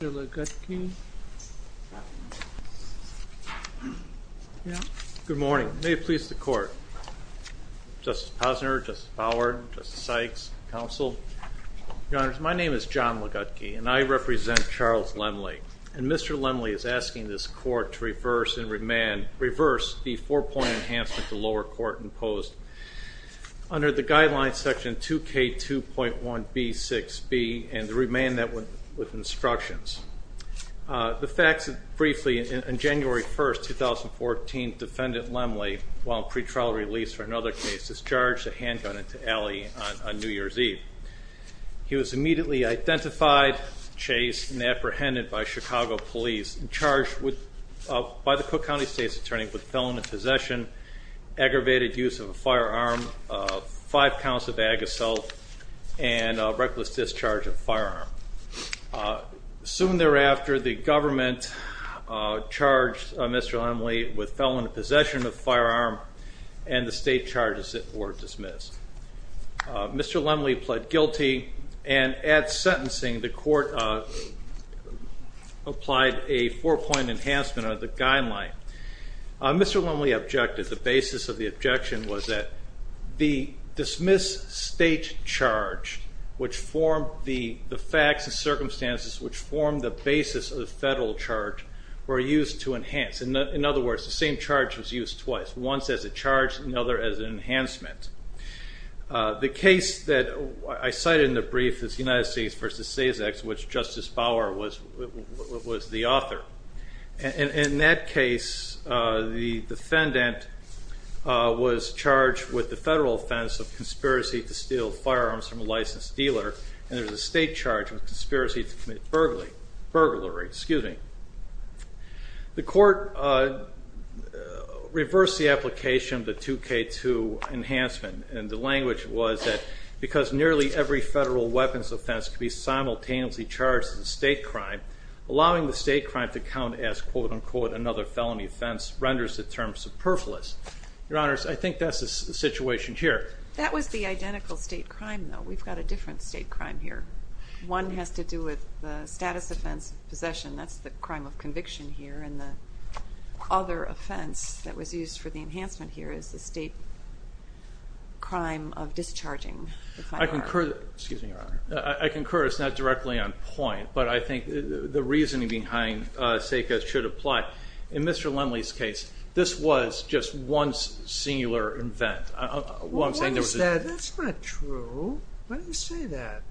Good morning. May it please the court. Justice Posner, Justice Bauer, Justice Sykes, counsel, your honors, my name is John Ligutke and I represent Charles Lemle. And Mr. Lemle is asking this court to reverse and remand, reverse the four point enhancement to lower court imposed under the guidelines section 2k 2.1b 6b and to remand that with instructions. The facts are briefly in January 1st 2014, defendant Lemle, while in pretrial release for another case, discharged a handgun into alley on New Year's Eve. He was immediately identified, chased and apprehended by Chicago police and charged with, by the Cook County State's attorney with felon in possession, aggravated use of a firearm, five counts of ag assault, and reckless discharge of firearm. Soon thereafter, the government charged Mr. Lemle with felon in possession of firearm and the state charges it for dismiss. Mr. Lemle pled guilty and at sentencing the court applied a four point enhancement of the guideline. Mr. Lemle objected. The basis of the objection was that the dismiss state charge, which formed the facts and circumstances which formed the basis of the federal charge, were used to enhance. In other words, the same charge was used twice, once as a charge, another as an enhancement. The case that I cited in the brief is United States v. SESAX, which was charged with the federal offense of conspiracy to steal firearms from a licensed dealer and there was a state charge of conspiracy to commit burglary. The court reversed the application of the 2K2 enhancement and the language was that because nearly every federal weapons offense could be simultaneously charged as a state crime, allowing the state crime to count as another felony offense renders the term superfluous. Your Honors, I think that's the situation here. That was the identical state crime, though. We've got a different state crime here. One has to do with the status offense of possession, that's the crime of conviction here, and the other offense that was used for the enhancement here is the state crime of discharging. I concur, it's not directly on point, but I think the reasoning behind SESAX should apply. In Mr. Lindley's case, this was just one singular event. Well, what is that? That's not true. Why do you say that?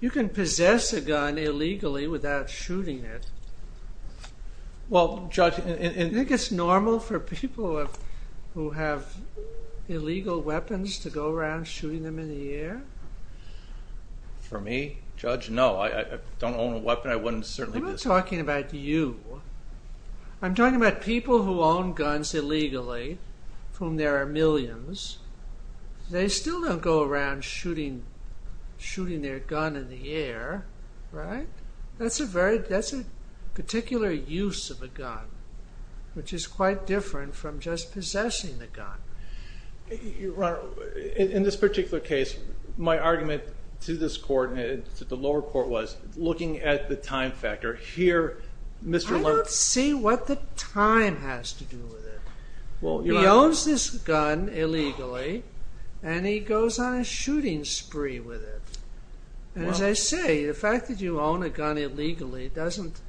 You can possess a gun illegally without shooting it. Well, Judge... Do you think it's normal for people who have illegal weapons to go around shooting them in the air? For me, Judge, no. I don't own a weapon. I wouldn't certainly... I'm not talking about you. I'm talking about people who own guns illegally, of whom there are millions. They still don't go around shooting their gun in the air, right? That's a particular use of a gun, which is quite different from just possessing the gun. Your Honor, in this particular case, my argument to this court, to the lower court, was looking at the time factor. Here, Mr. Lindley... I don't see what the time has to do with it. He owns this gun illegally, and he goes on a shooting spree with it. As I say, the fact that you own a gun illegally doesn't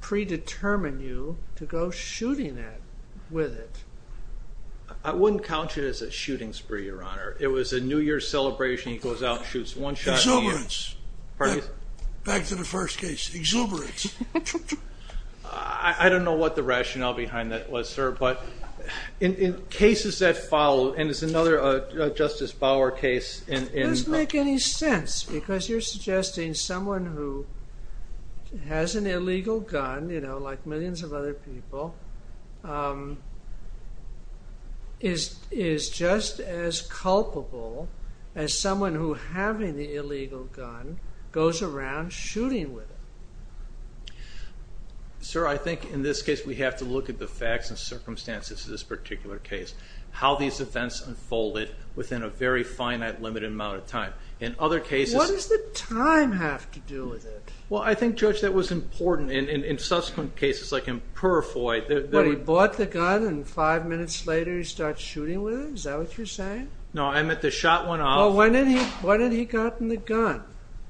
predetermine you to go shooting that with it. I wouldn't count it as a shooting spree, Your Honor. It was a New Year's celebration. He goes out and shoots one shot in the air. Exuberance. Back to the first case. Exuberance. I don't know what the rationale behind that was, sir, but in cases that follow, and it's another Justice Bauer case... It doesn't make any sense, because you're suggesting someone who has an illegal gun, you know, like millions of other people, is just as culpable as someone who, having the illegal gun, goes around shooting with it. Sir, I think in this case, we have to look at the facts and circumstances of this particular case. How these events unfolded within a very finite, limited amount of time. What does the time have to do with it? Well, I think, Judge, that was important in subsequent cases like in Purr-Foy. What, he bought the gun, and five minutes later he starts shooting with it? Is that what you're saying? No, I meant the shot went off. Well, when had he gotten the gun?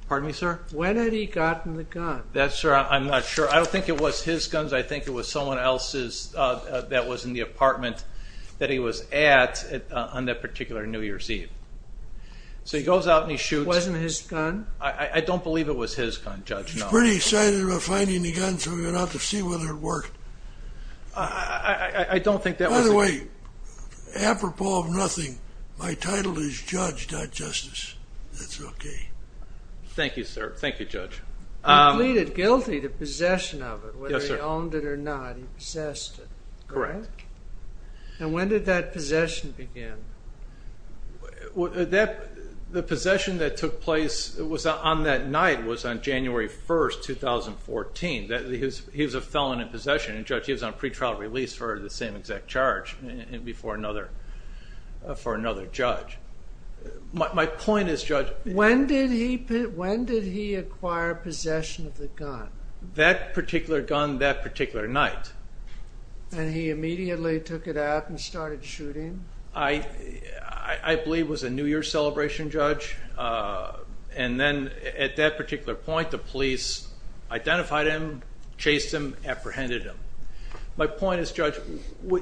Pardon me, sir? When had he gotten the gun? That, sir, I'm not sure. I don't think it was his guns. I think it was someone else's that was in the apartment that he was at on that particular New Year's Eve. So he goes out and he shoots... It wasn't his gun? I don't believe it was his gun, Judge, no. He was pretty excited about finding the gun, so he went out to see whether it worked. I don't think that was... By the way, apropos of nothing, my title is Judge, not Justice. That's okay. Thank you, sir. Thank you, Judge. He pleaded guilty to possession of it, whether he owned it or not. He possessed it. Correct. And when did that possession begin? The possession that took place on that night was on January 1, 2014. He was a felon in possession, and Judge, he was on pre-trial release for the same exact charge for another judge. My point is, Judge... When did he acquire possession of the gun? That particular gun that particular night. And he immediately took it out and started shooting? I believe it was a New Year's celebration, Judge. And then at that particular point, the police identified him, chased him, apprehended him. My point is, Judge,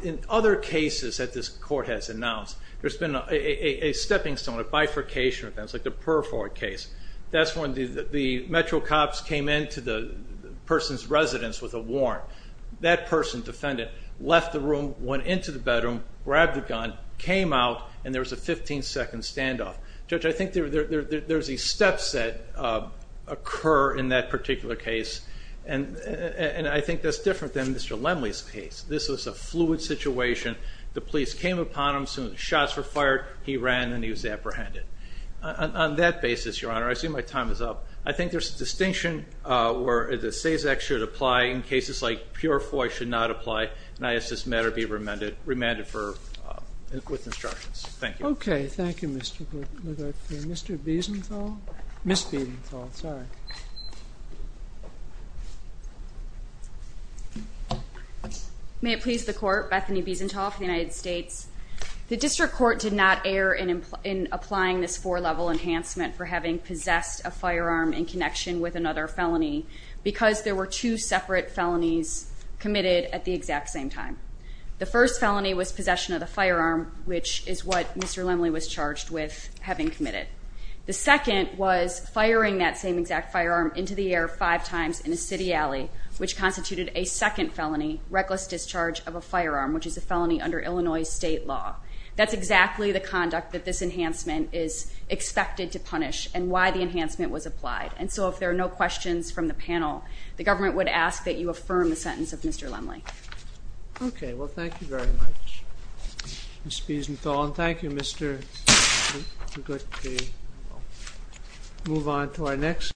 in other cases that this court has announced, there's been a stepping stone, a bifurcation. It's like the Purford case. That's when the Metro cops came into the person's residence with a warrant. That person, defendant, left the room, went into the bedroom, grabbed the gun, came out, and there was a 15-second standoff. Judge, I think there's these steps that occur in that particular case, and I think that's different than Mr. Lemley's case. This was a fluid situation. The police came upon him. Shots were fired. He ran, and he was apprehended. On that basis, Your Honor, I assume my time is up. I think there's a distinction where the SAVES Act should apply in cases like Purford should not apply, and I ask this matter be remanded with instructions. Thank you. Okay. Thank you, Mr. Biesenthal. Ms. Biesenthal, sorry. May it please the Court, Bethany Biesenthal for the United States. The district court did not err in applying this four-level enhancement for having possessed a firearm in connection with another felony because there were two separate felonies committed at the exact same time. The first felony was possession of the firearm, which is what Mr. Lemley was charged with having committed. The second was firing that same exact firearm into the air five times in a city alley, which constituted a second felony, reckless discharge of a firearm, which is a felony under Illinois state law. That's exactly the conduct that this enhancement is expected to punish and why the enhancement was applied, and so if there are no questions from the panel, the government would ask that you affirm the sentence of Mr. Lemley. Okay. Well, thank you very much, Ms. Biesenthal, and thank you, Mr. Biesenthal.